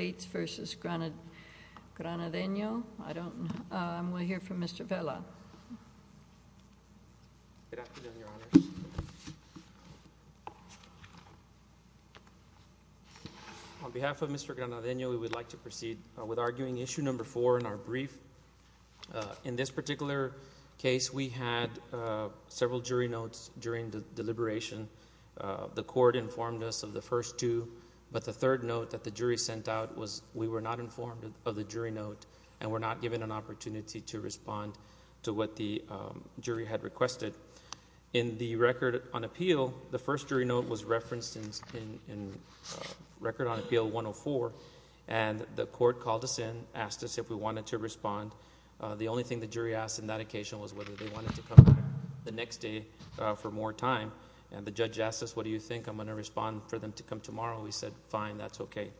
on behalf of Mr. Granadeno we would like to proceed with arguing issue number four in our brief in this particular case we had several jury notes during the deliberation the court informed us of the first two but the third note that the jury sent out was we were not informed of the jury note and were not given an opportunity to respond to what the jury had requested in the record on appeal the first jury note was referenced in record on appeal 104 and the court called us in asked us if we wanted to respond the only thing the jury asked in that occasion was whether they wanted to come back the next day for more time and the judge asked us what do you think I'm going to respond for them to come tomorrow we said fine that's okay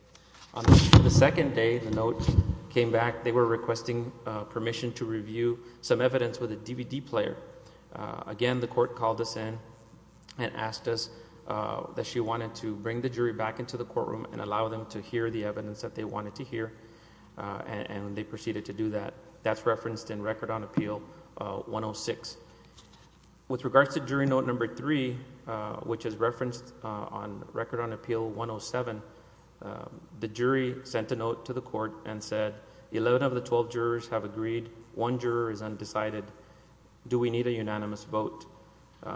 on the second day the note came back they were requesting permission to review some evidence with a DVD player again the court called us in and asked us that she wanted to bring the jury back into the courtroom and allow them to hear the evidence that they wanted to hear and they proceeded to do that that's referenced in record on appeal 106 with regards to jury note number three which is referenced on record on appeal 107 the jury sent a note to the court and said 11 of the 12 jurors have agreed one juror is undecided do we need a unanimous vote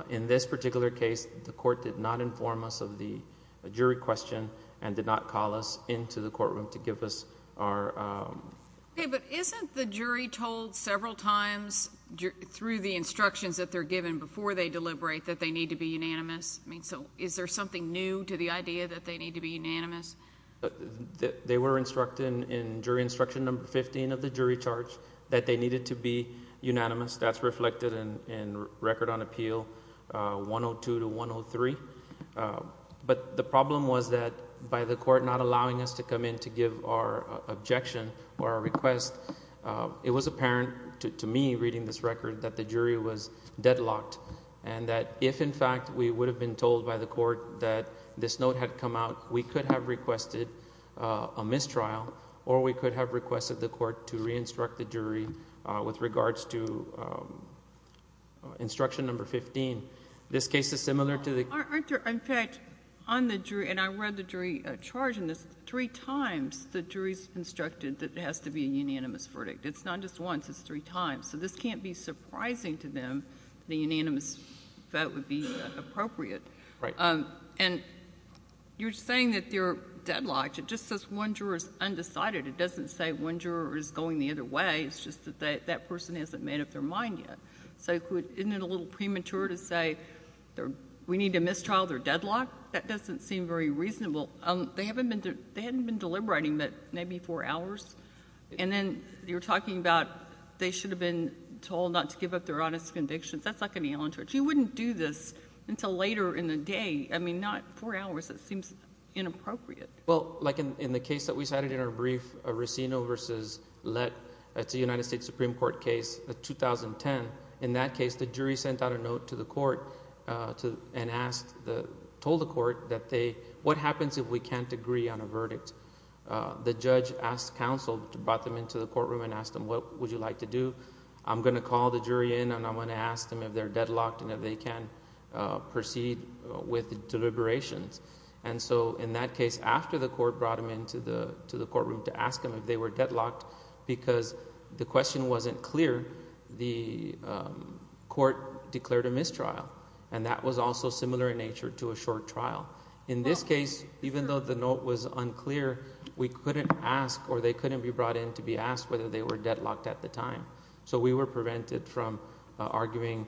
in this particular case the court did not inform us of the jury question and did not call us into the courtroom to give us our but isn't the jury told several times through the instructions that they're given before they deliberate that they need to be unanimous I mean so is there something new to the idea that they need to be unanimous that they were instructed in jury instruction number 15 of the jury charge that they needed to be unanimous that's reflected in record on appeal 102 to 103 but the problem was that by the court not allowing us to come in to give our objection or a request it was apparent to me reading this record that the jury was deadlocked and that if in fact we would have been told by the court that this note had come out we could have requested a mistrial or we could have requested the court to re-instruct the jury with regards to instruction number 15 this case is similar to the... the jury's instructed that has to be a unanimous verdict it's not just once it's three times so this can't be surprising to them the unanimous vote would be appropriate and you're saying that they're deadlocked it just says one juror is undecided it doesn't say one juror is going the other way it's just that that person hasn't made up their mind yet so isn't it a little premature to say we need to mistrial their deadlock that doesn't seem very reasonable they haven't been deliberating that maybe four hours and then you're talking about they should have been told not to give up their honest convictions that's like an allen torch you wouldn't do this until later in the day I mean not four hours it seems inappropriate well like in the case that we cited in our brief a racino versus let that's a united states supreme court case the 2010 in that case the jury sent out a note to the court to and asked the told the court that they what happens if we can't agree on a verdict the judge asked counsel to brought them into the courtroom and asked them what would you like to do I'm going to call the jury in and I'm going to ask them if they're deadlocked and if they can proceed with the deliberations and so in that case after the court brought him into the to the courtroom to ask them if they were deadlocked because the question wasn't clear the court declared a mistrial and that was also similar in nature to a short trial in this case even though the note was unclear we couldn't ask or they couldn't be brought in to be asked whether they were deadlocked at the time so we were prevented from arguing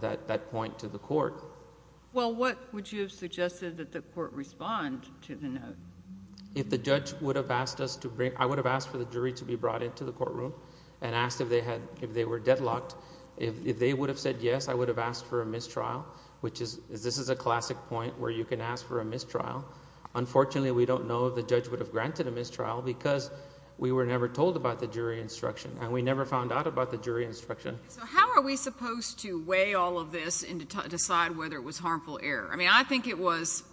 that that point to the court well what would you have suggested that the court respond to the note if the judge would have asked us to bring I would have asked for the jury to be brought into the courtroom and asked if they had if they were deadlocked if they would have said yes I would have asked for a mistrial which is this is a classic point where you can ask for a mistrial unfortunately we don't know the judge would have granted a mistrial because we were never told about the jury instruction and we never found out about the jury instruction so how are we supposed to weigh all of this and decide whether it was harmful error I mean I think it was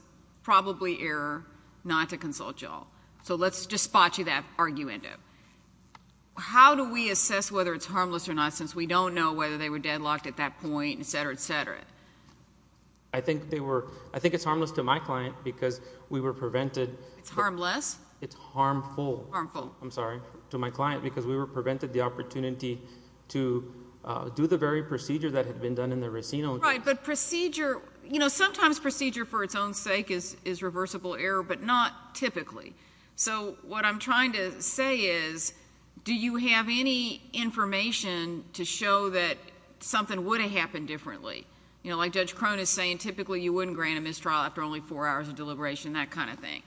probably error not to consult y'all so let's just spot you that argument how do we assess whether it's harmless or not since we don't know whether they were deadlocked at that point etc etc I think they were I think it's harmless to my client because we were prevented it's harmless it's harmful harmful I'm sorry to my client because we were prevented the opportunity to do the very procedure that had been done in the racino right but procedure you know sometimes procedure for its own sake is is reversible error but not typically so what I'm trying to say is do you have any information to show that something would have happened differently you know like judge Cronin is saying typically you wouldn't grant a mistrial after only four hours of deliberation that kind of thing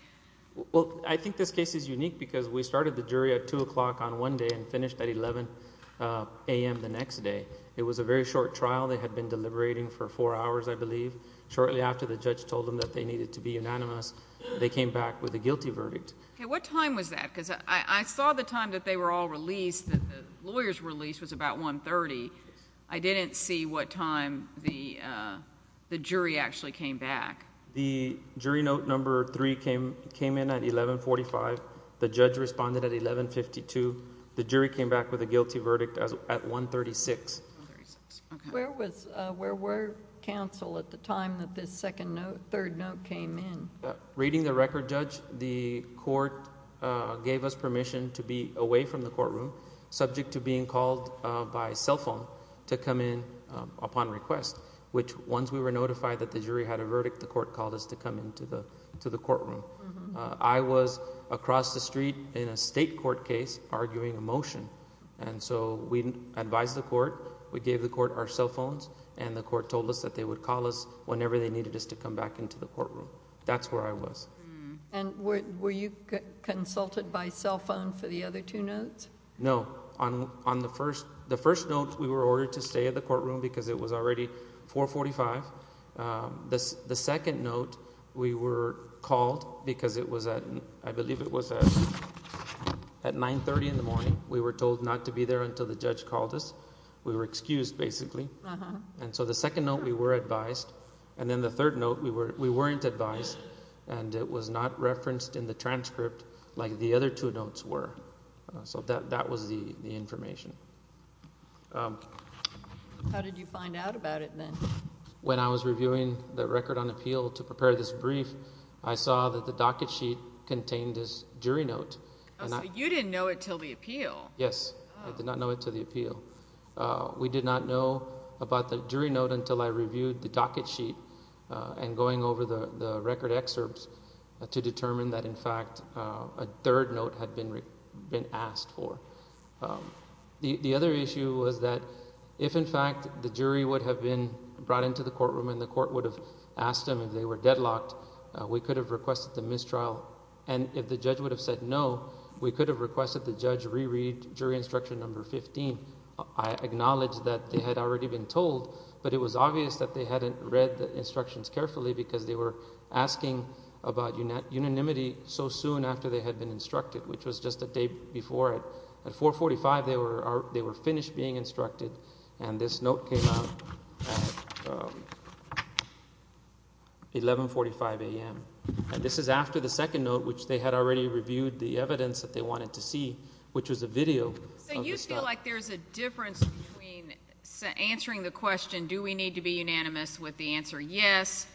well I think this case is unique because we started the jury at two o'clock on one day and finished at 11 a.m. the next day it was a very short trial they had been deliberating for four hours I believe shortly after the judge told them that they needed to be unanimous they came back with a guilty verdict okay what time was that because I saw the time that they were all released that the lawyers released was about 130 I didn't see what time the the jury actually came back the jury note number three came came in at 1145 the judge responded at 1152 the jury came back with a guilty verdict as at 136 where was where were counsel at the time that this second note third note came in reading the record judge the court gave us permission to be away from the courtroom subject to being called by cell phone to come in upon request which once we were notified that the jury had a verdict the court called us to come into the to the courtroom I was across the street in a state court case arguing a motion and so we advised the court we gave the court our cell phones and the court told us that they would call us whenever they needed us to come back into the courtroom that's where I was and were you consulted by cell phone for the other two notes no on on the first the first note we were ordered to stay at the courtroom because it was already 445 this the second note we were called because it was that I believe it was at 930 in the morning we were told not to be there until the judge called us we were excused basically and so the second note we were advised and then the third note we were we weren't advised and it was not referenced in the transcript like the other two notes were so that that was the information how did you find the record on appeal to prepare this brief I saw that the docket sheet contained this jury note you didn't know it till the appeal yes I did not know it to the appeal we did not know about the jury note until I reviewed the docket sheet and going over the record excerpts to determine that in fact a third note had been been asked for the the other issue was that if in fact the jury would have been brought into the courtroom and the court would have asked him if they were deadlocked we could have requested the mistrial and if the judge would have said no we could have requested the judge reread jury instruction number 15 I acknowledged that they had already been told but it was obvious that they hadn't read the instructions carefully because they were asking about you net unanimity so soon after they had been instructed which was just a day before it at 445 they were finished being instructed and this note came out 1145 a.m. and this is after the second note which they had already reviewed the evidence that they wanted to see which was a video so you feel like there's a difference between answering the question do we need to be unanimous with the answer yes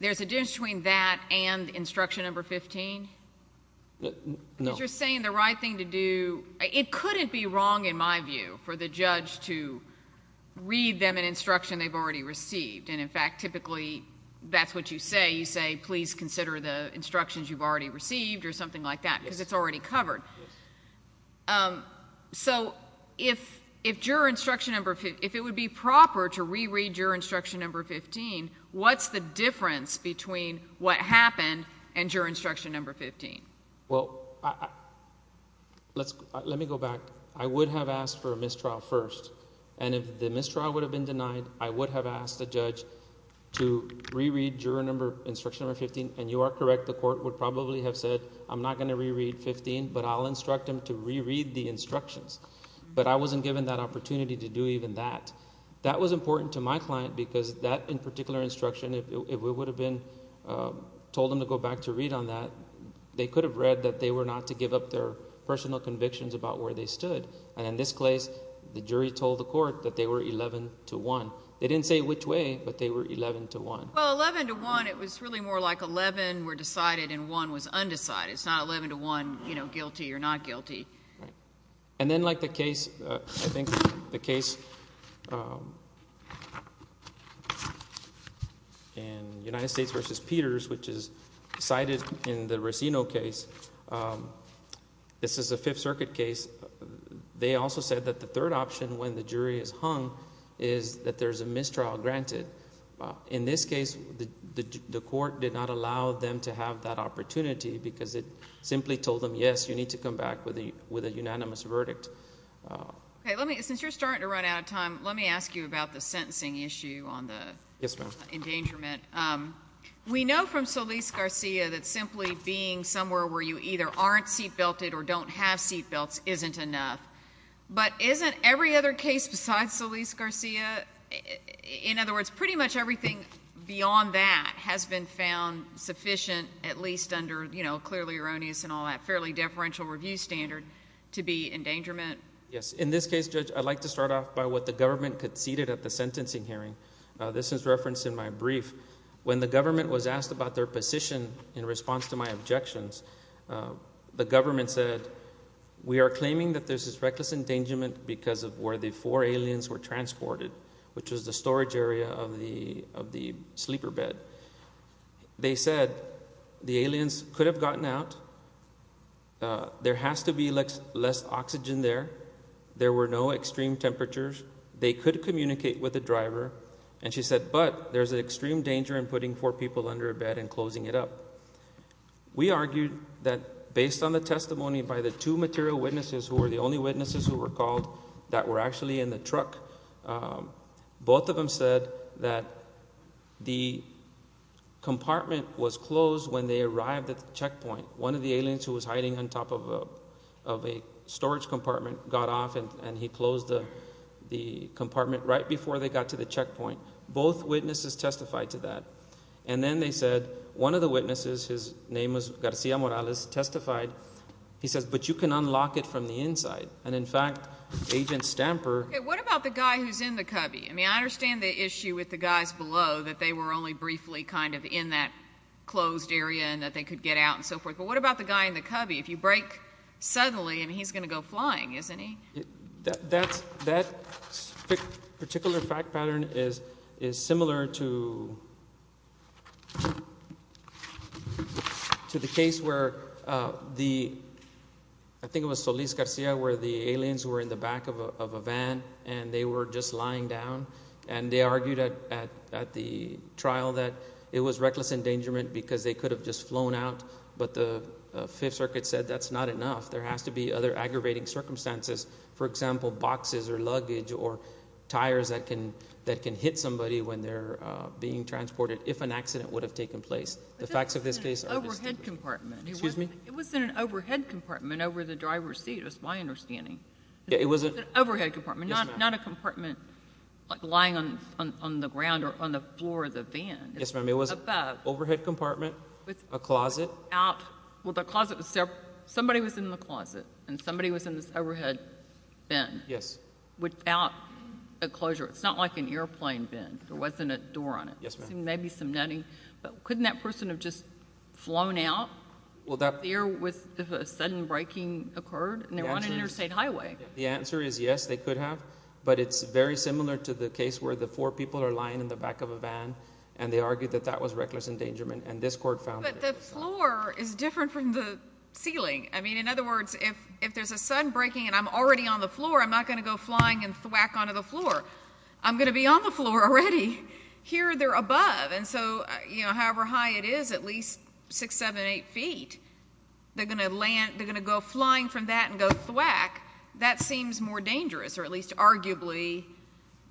there's a difference between that and instruction number 15 no you're saying the right thing to do it couldn't be wrong in my view for the judge to read them an instruction they've already received and in fact typically that's what you say you say please consider the instructions you've already received or something like that because it's already covered so if if juror instruction number if it would be proper to reread your instruction number 15 what's the difference between what instruction number 15 well let's let me go back I would have asked for a mistrial first and if the mistrial would have been denied I would have asked the judge to reread juror number instruction or 15 and you are correct the court would probably have said I'm not going to reread 15 but I'll instruct him to reread the instructions but I wasn't given that opportunity to do even that that was important to my client because that in particular instruction it would have been told them to go back to read on that they could have read that they were not to give up their personal convictions about where they stood and in this place the jury told the court that they were 11 to 1 they didn't say which way but they were 11 to 1 well 11 to 1 it was really more like 11 were decided and one was undecided it's not 11 to 1 you know guilty or not guilty and then like the cited in the Racino case this is a Fifth Circuit case they also said that the third option when the jury is hung is that there's a mistrial granted in this case the court did not allow them to have that opportunity because it simply told them yes you need to come back with a with a unanimous verdict okay let me since you're starting to run out of time let me ask you about the sentencing issue on the endangerment we know from Solis Garcia that simply being somewhere where you either aren't seat belted or don't have seat belts isn't enough but isn't every other case besides Solis Garcia in other words pretty much everything beyond that has been found sufficient at least under you know clearly erroneous and all that fairly deferential review standard to be endangerment yes in this case judge I'd like to start off by what the sentencing hearing this is referenced in my brief when the government was asked about their position in response to my objections the government said we are claiming that there's this reckless endangerment because of where the four aliens were transported which was the storage area of the of the sleeper bed they said the aliens could have gotten out there has to be less less oxygen there there were no extreme temperatures they could communicate with the driver and she said but there's an extreme danger in putting four people under a bed and closing it up we argued that based on the testimony by the two material witnesses who were the only witnesses who were called that were actually in the truck both of them said that the compartment was closed when they arrived at the checkpoint one of the aliens who was hiding on top of a storage compartment got off and and he closed the the compartment right before they got to the checkpoint both witnesses testified to that and then they said one of the witnesses his name was Garcia Morales testified he says but you can unlock it from the inside and in fact agent stamper what about the guy who's in the cubby I mean I understand the issue with the guys below that they were only briefly kind of in that closed area and that they could get out and so forth but what about the guy in the cubby if you break suddenly and he's gonna go flying isn't he that's that particular fact pattern is is similar to to the case where the I think it was Solis Garcia where the aliens were in the back of a van and they were just lying down and they argued at the trial that it was reckless endangerment because they could have just flown out but the Fifth Circuit said that's not enough there has to be other aggravating circumstances for example boxes or luggage or tires that can that can hit somebody when they're being transported if an accident would have taken place the facts of compartment excuse me it was in an overhead compartment over the driver's seat it's my understanding it was an overhead compartment not a compartment like lying on on the ground or on the floor of the van yes ma'am it was overhead compartment with a closet out well the closet was there somebody was in the closet and somebody was in this overhead bin yes without a closure it's not like an airplane bin there wasn't a door on it yes maybe some nutty but couldn't that person have just flown out well that beer with the sudden breaking occurred and they're on an interstate highway the answer is yes they could have but it's very similar to the case where the four people are lying in the back of a van and they argued that that was reckless endangerment and this court found that the floor is different from the ceiling I mean in other words if if there's a sudden breaking and I'm already on the floor I'm not gonna go flying and thwack onto the is at least six seven eight feet they're gonna land they're gonna go flying from that and go thwack that seems more dangerous or at least arguably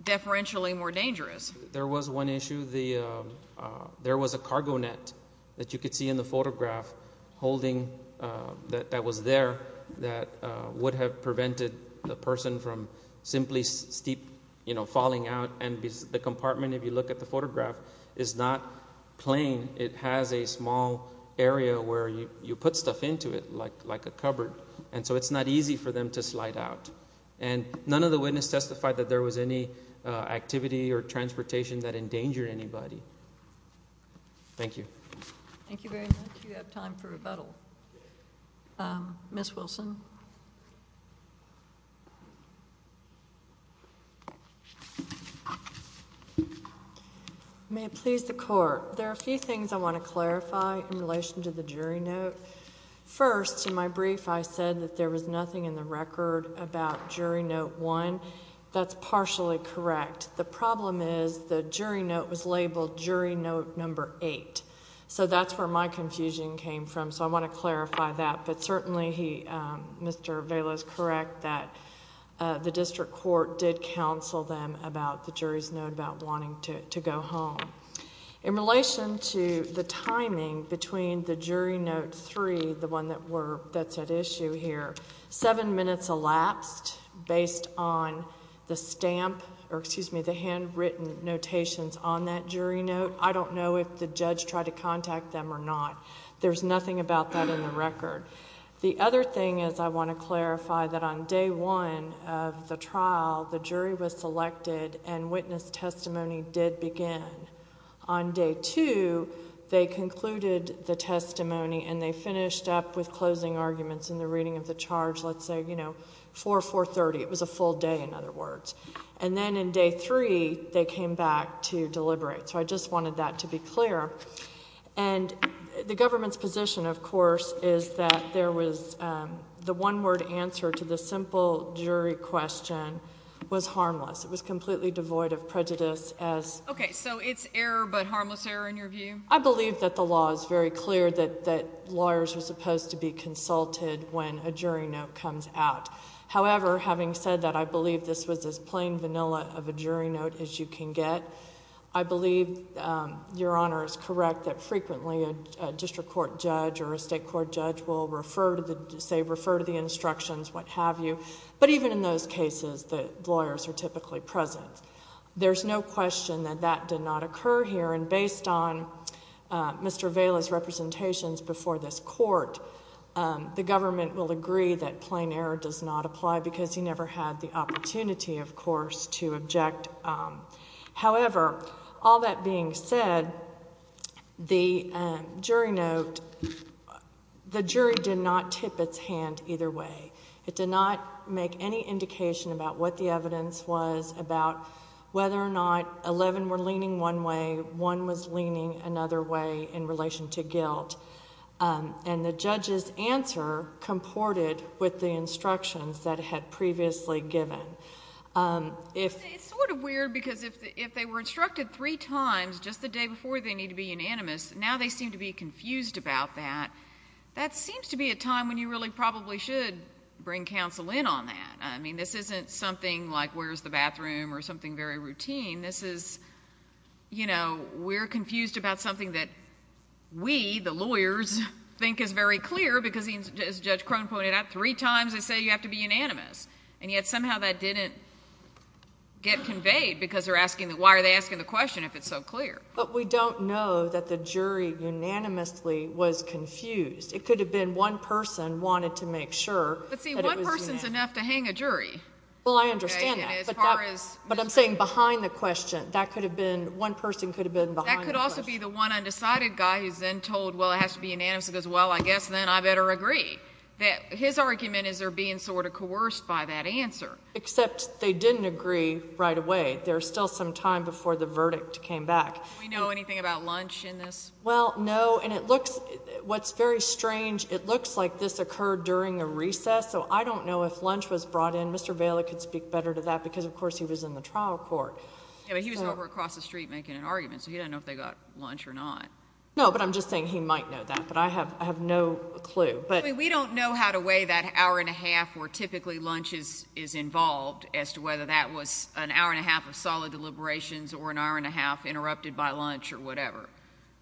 deferentially more dangerous there was one issue the there was a cargo net that you could see in the photograph holding that that was there that would have prevented the person from simply steep you know falling out and the compartment if you look at the photograph is not plain it has a small area where you put stuff into it like like a cupboard and so it's not easy for them to slide out and none of the witness testified that there was any activity or transportation that endangered anybody thank you thank you very much you have may please the court there are a few things I want to clarify in relation to the jury note first in my brief I said that there was nothing in the record about jury note one that's partially correct the problem is the jury note was labeled jury note number eight so that's where my confusion came from so I want to clarify that but certainly he mr. Vela is correct that the district court did counsel them about the jury's note about wanting to go home in relation to the timing between the jury note three the one that were that's at issue here seven minutes elapsed based on the stamp or excuse me the handwritten notations on that jury note I don't know if the judge tried to contact them or not there's nothing about that in the record the other thing is I want to clarify that on day one of the trial the jury was selected and witness testimony did begin on day two they concluded the testimony and they finished up with closing arguments in the reading of the charge let's say you know for 430 it was a full day in other words and then in day three they came back to deliberate so I just wanted that to be clear and the government's position of course is that there was the one word answer to the simple jury question was harmless it was completely devoid of prejudice as okay so it's error but harmless error in your view I believe that the law is very clear that that lawyers are supposed to be consulted when a jury note comes out however having said that I believe this was as plain vanilla of a jury note as you can get I believe your honor is correct that frequently a district court judge or a state court judge will refer to the say refer to the instructions what-have-you but even in those cases the lawyers are typically present there's no question that that did not occur here and based on Mr. Vaila's representations before this court the government will agree that plain error does not apply because he never had the jury note the jury did not tip its hand either way it did not make any indication about what the evidence was about whether or not 11 were leaning one way one was leaning another way in relation to guilt and the judge's answer comported with the instructions that had previously given if it's sort of weird because if they were instructed three times just the day before they need to be unanimous now they seem to be confused about that that seems to be a time when you really probably should bring counsel in on that I mean this isn't something like where's the bathroom or something very routine this is you know we're confused about something that we the lawyers think is very clear because he's Judge Crone pointed out three times they say you have to be unanimous and yet somehow that didn't get conveyed because they're asking that why are they asking the question if it's so clear but we don't know that the jury unanimously was confused it could have been one person wanted to make sure but see one person's enough to hang a jury well I understand that but I'm saying behind the question that could have been one person could have been behind that could also be the one undecided guy who's then told well it has to be coerced by that answer except they didn't agree right away there's still some time before the verdict came back we know anything about lunch in this well no and it looks what's very strange it looks like this occurred during a recess so I don't know if lunch was brought in mr. Bailey could speak better to that because of course he was in the trial court he was over across the street making an argument so he didn't know if they got lunch or not no but I'm just saying he might know that but I have I have no clue but we don't know how to weigh that hour and a half or typically lunches is involved as to whether that was an hour and a half of solid deliberations or an hour and a half interrupted by lunch or whatever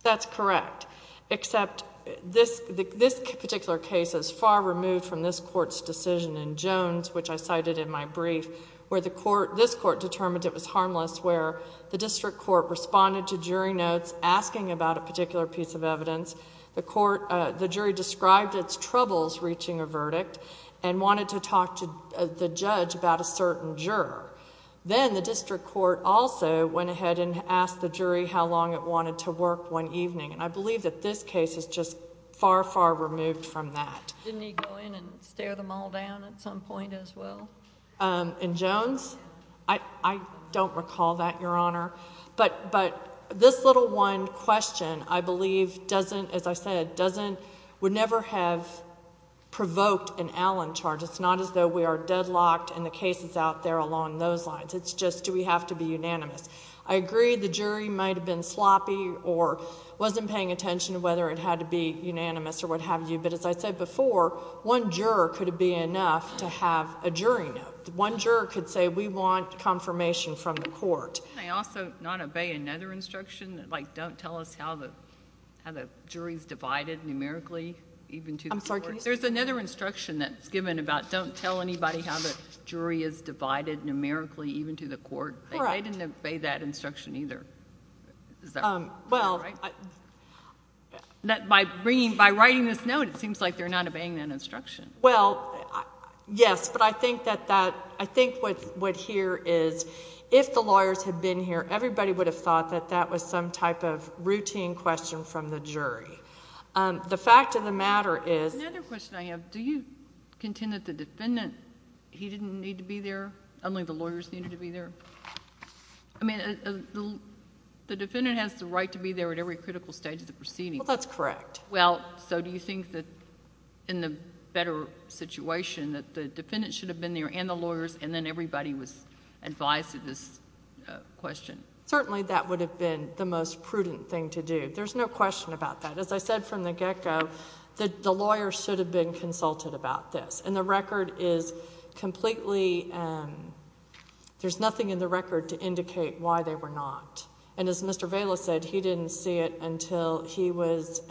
that's correct except this this particular case is far removed from this court's decision in Jones which I cited in my brief where the court this court determined it was harmless where the district court responded to jury notes asking about a particular piece of evidence the court the jury described its troubles reaching a verdict and wanted to talk to the judge about a certain juror then the district court also went ahead and asked the jury how long it wanted to work one evening and I believe that this case is just far far removed from that didn't he go in and stare them all down at some point as well and Jones I don't recall that your honor but but this little one question I believe doesn't as I said doesn't would never have provoked an Allen charge it's not as though we are deadlocked and the case is out there along those lines it's just do we have to be unanimous I agree the jury might have been sloppy or wasn't paying attention to whether it had to be unanimous or what have you but as I said before one juror could it be enough to have a jury note one juror could say we want confirmation from the court they also not obey another instruction like don't tell us how the jury's divided numerically even to I'm sorry there's another instruction that's given about don't tell anybody how the jury is divided numerically even to the court I didn't obey that instruction either well that by bringing by writing this note it seems like they're not obeying that instruction well yes but I think that that I think what what here is if the lawyers have been here everybody would have thought that that was some type of routine question from the jury the fact of the matter is another question I have do you contend that the defendant he didn't need to be there only the lawyers needed to be there I mean the defendant has the right to be there at every critical stage of the proceeding that's correct well so do you think that in the better situation that the defendant should have been there and the lawyers and then everybody was advised to this question certainly that would have been the most prudent thing to do there's no question about that as I said from the get-go that the lawyer should have been consulted about this and the record is completely there's nothing in the record to indicate why they were not and as mr. Vela said he didn't see it until he was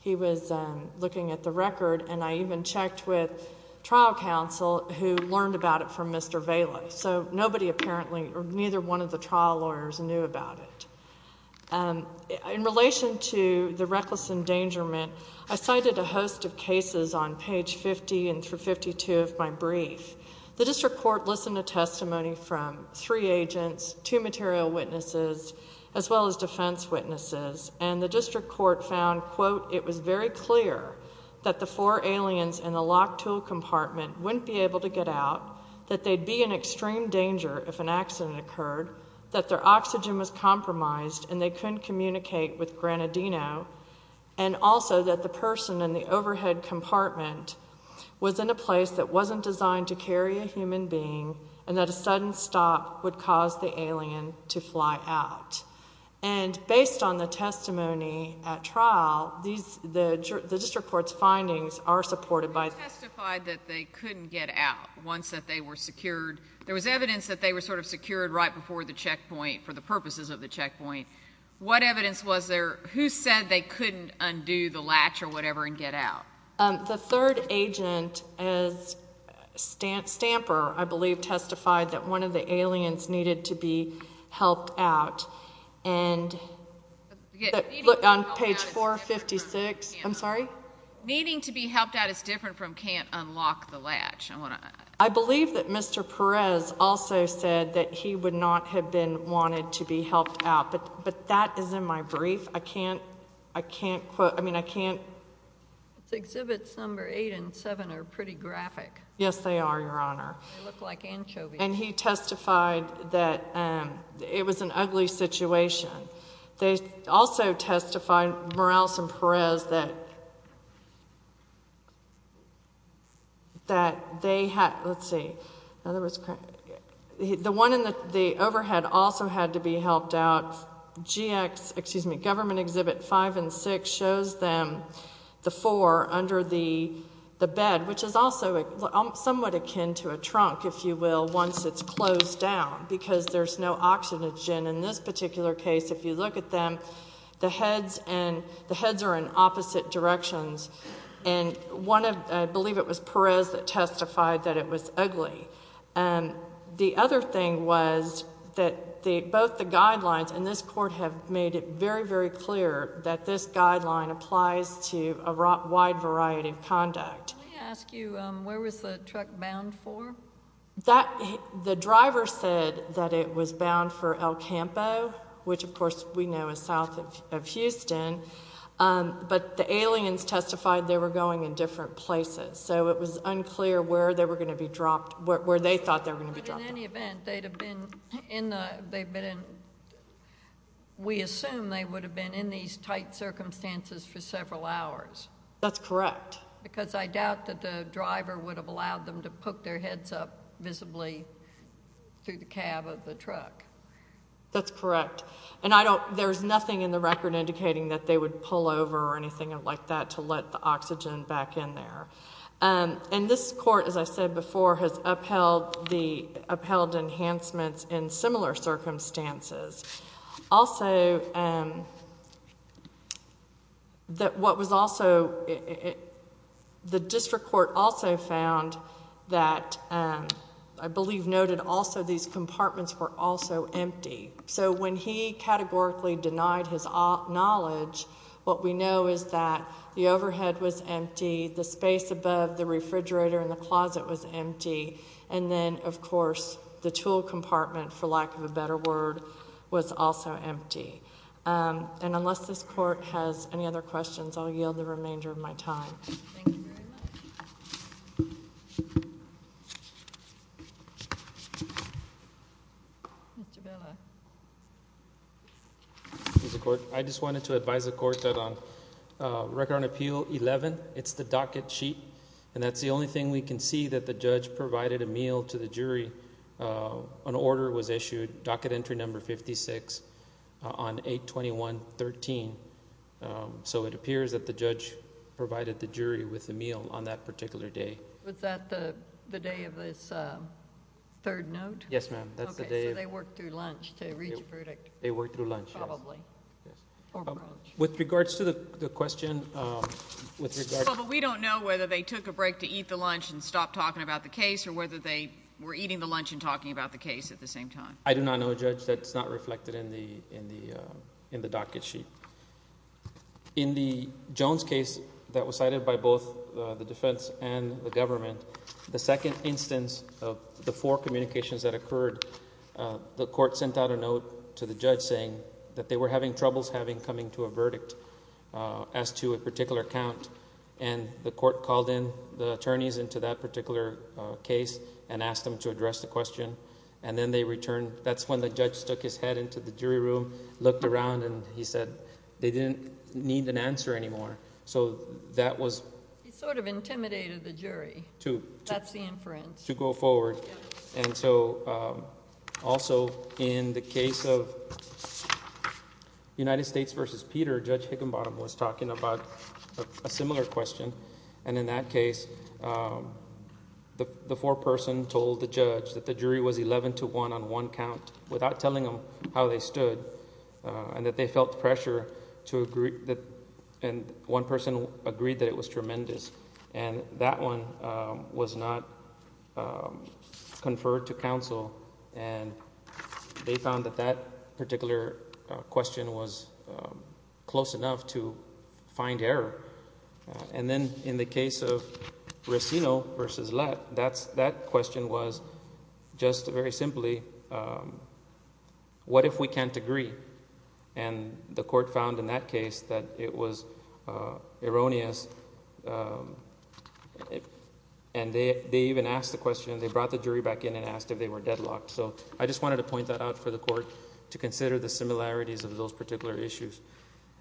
he was looking at the record and I even checked with trial counsel who learned about it from mr. Vela so nobody apparently or neither one of the trial lawyers knew about it and in relation to the reckless endangerment I cited a host of cases on page 50 and through 52 of my brief the district court listened to testimony from three agents to material witnesses as well as defense witnesses and the district court found quote it was very clear that the four aliens in the locked tool compartment wouldn't be able to get out that they'd be in extreme danger if an accident occurred that their oxygen was compromised and they couldn't communicate with Granadino and also that the person in the overhead compartment was in a place that wasn't designed to carry a human being and that a sudden stop would cause the alien to fly out and based on the testimony at trial these the district court's findings are secured there was evidence that they were sort of secured right before the checkpoint for the purposes of the checkpoint what evidence was there who said they couldn't undo the latch or whatever and get out the third agent as stamp stamper I believe testified that one of the aliens needed to be helped out and look on page 456 I'm sorry needing to be helped out it's different from can't Mr. Perez also said that he would not have been wanted to be helped out but but that is in my brief I can't I can't quote I mean I can't exhibits number eight and seven are pretty graphic yes they are your honor look like anchovy and he testified that it was an ugly situation they also testified Morales and Perez that that they had let's see now there was the one in the overhead also had to be helped out GX excuse me government exhibit five and six shows them the four under the the bed which is also somewhat akin to a trunk if you will once it's closed down because there's no oxygen in this particular case if you look at them the heads and the heads are in opposite directions and one of I believe it was Perez that testified that it was ugly and the other thing was that the both the guidelines and this court have made it very very clear that this guideline applies to a rock wide variety of conduct ask you where was the truck bound for that the driver said that it was bound for El Campo which of course we know is south of Houston but the aliens testified they were going in different places so it was unclear where they were going to be dropped what where they thought they're going to be dropped in any event they'd have been in they've been in we that's correct because I doubt that the driver would have allowed them to put their heads up visibly through the cab of the truck that's correct and I don't there's nothing in the record indicating that they would pull over or anything like that to let the oxygen back in there and this court as I said before has upheld the upheld enhancements in similar circumstances also that what was also the district court also found that I believe noted also these compartments were also empty so when he categorically denied his knowledge what we know is that the overhead was empty the space above the refrigerator and the closet was also empty and unless this court has any other questions I'll yield the remainder of my time I just wanted to advise the court that on record on appeal 11 it's the docket sheet and that's the only thing we can see that the judge provided a meal to the jury an order was issued docket entry number 56 on 8 21 13 so it appears that the judge provided the jury with a meal on that particular day was that the day of this third note yes ma'am that's the day they worked through lunch to reach a verdict they worked through lunch probably with regards to the question we don't know whether they took a break to eat the lunch and stop talking about the case or whether they were eating the lunch and talking about the case at the same time I do not know that's not reflected in the in the in the docket sheet in the Jones case that was cited by both the defense and the government the second instance of the four communications that occurred the court sent out a note to the judge saying that they were having troubles having coming to a verdict as to a particular account and the court called in the attorneys into that particular case and then they returned that's when the judge stuck his head into the jury room looked around and he said they didn't need an answer anymore so that was sort of intimidated the jury to that's the inference to go forward and so also in the case of United States versus Peter judge Higginbottom was talking about a similar question and in that case the the foreperson told the judge that they were not going to be able to get a verdict on one on one count without telling them how they stood and that they felt pressure to agree that and one person agreed that it was tremendous and that one was not conferred to counsel and they found that that particular question was close enough to find error and then in the case of Racino versus Lett that's that question was just very simply what if we can't agree and the court found in that case that it was erroneous and they even asked the question they brought the jury back in and asked if they were deadlocked so I just wanted to point that out for the court to consider the similarities of those particular issues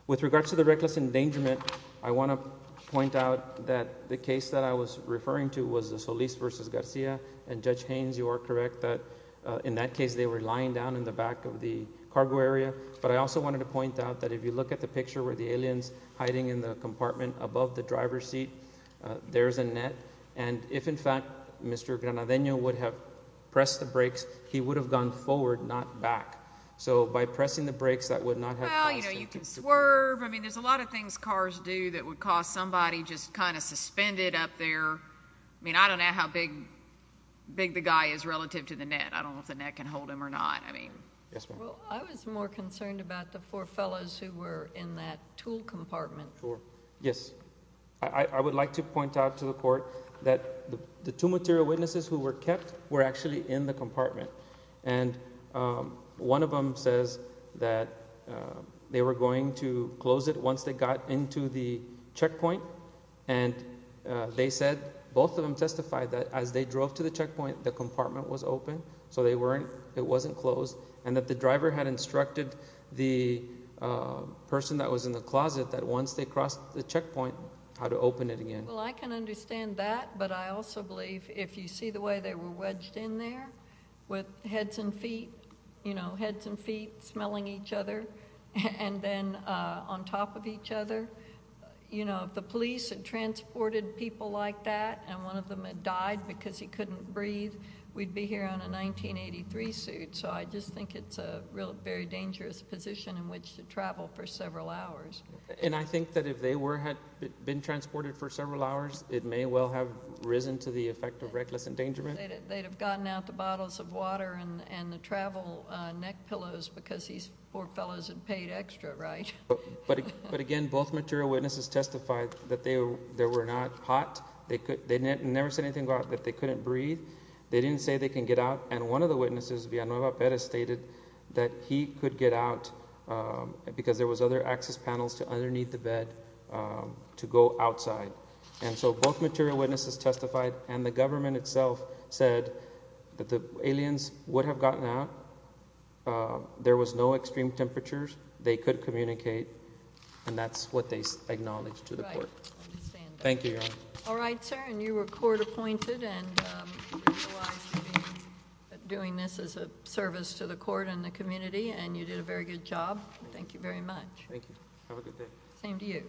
with regards to the reckless endangerment I want to point out that the case that I was referring to was the Solis versus Garcia and judge Haynes you are correct that in that case they were lying down in the back of the cargo area but I also wanted to point out that if you look at the picture where the aliens hiding in the compartment above the driver's seat there's a net and if in fact mr. Granadinho would have pressed the brakes he would have gone forward not back so by pressing the brakes that would not have you know you can swerve I mean there's a lot of things cars do that would cause somebody just kind of suspended up there I mean I don't know how big big the guy is relative to the net I don't know if the net can hold him or not I mean I was more concerned about the four fellows who were in that tool compartment for yes I would like to point out to the court that the two material witnesses who were kept were actually in the compartment and one of them says that they were going to close it once they got into the checkpoint and they said both of them testified that as they drove to the checkpoint the compartment was open so they weren't it wasn't closed and that the driver had instructed the person that was in the closet that once they crossed the checkpoint how to open it again well I can understand that but I also believe if you see the way they were wedged in there with heads and feet you know heads and feet smelling each other and then on top of each other you know the police had transported people like that and one of them had died because he couldn't breathe we'd be here on a 1983 suit so I just think it's a real very dangerous position in which to travel for several hours and I think that if they were had been transported for several hours it may well have risen to the effect of reckless endangerment they'd have gotten out the bottles of water and and the travel neck pillows because these poor fellows had paid extra right but but again both material witnesses testified that they were there were not hot they could they never said anything about that they couldn't breathe they didn't say they can get out and one of the witnesses Villanueva Perez stated that he could get out because there was other access panels to underneath the bed to go outside and so both material witnesses testified and the government itself said that the aliens would have gotten out there was no extreme temperatures they could communicate and that's what they acknowledged to the court thank you all right sir and you were court-appointed and doing this as a service to the court in the community and you did a very good job thank you very much thank you same to you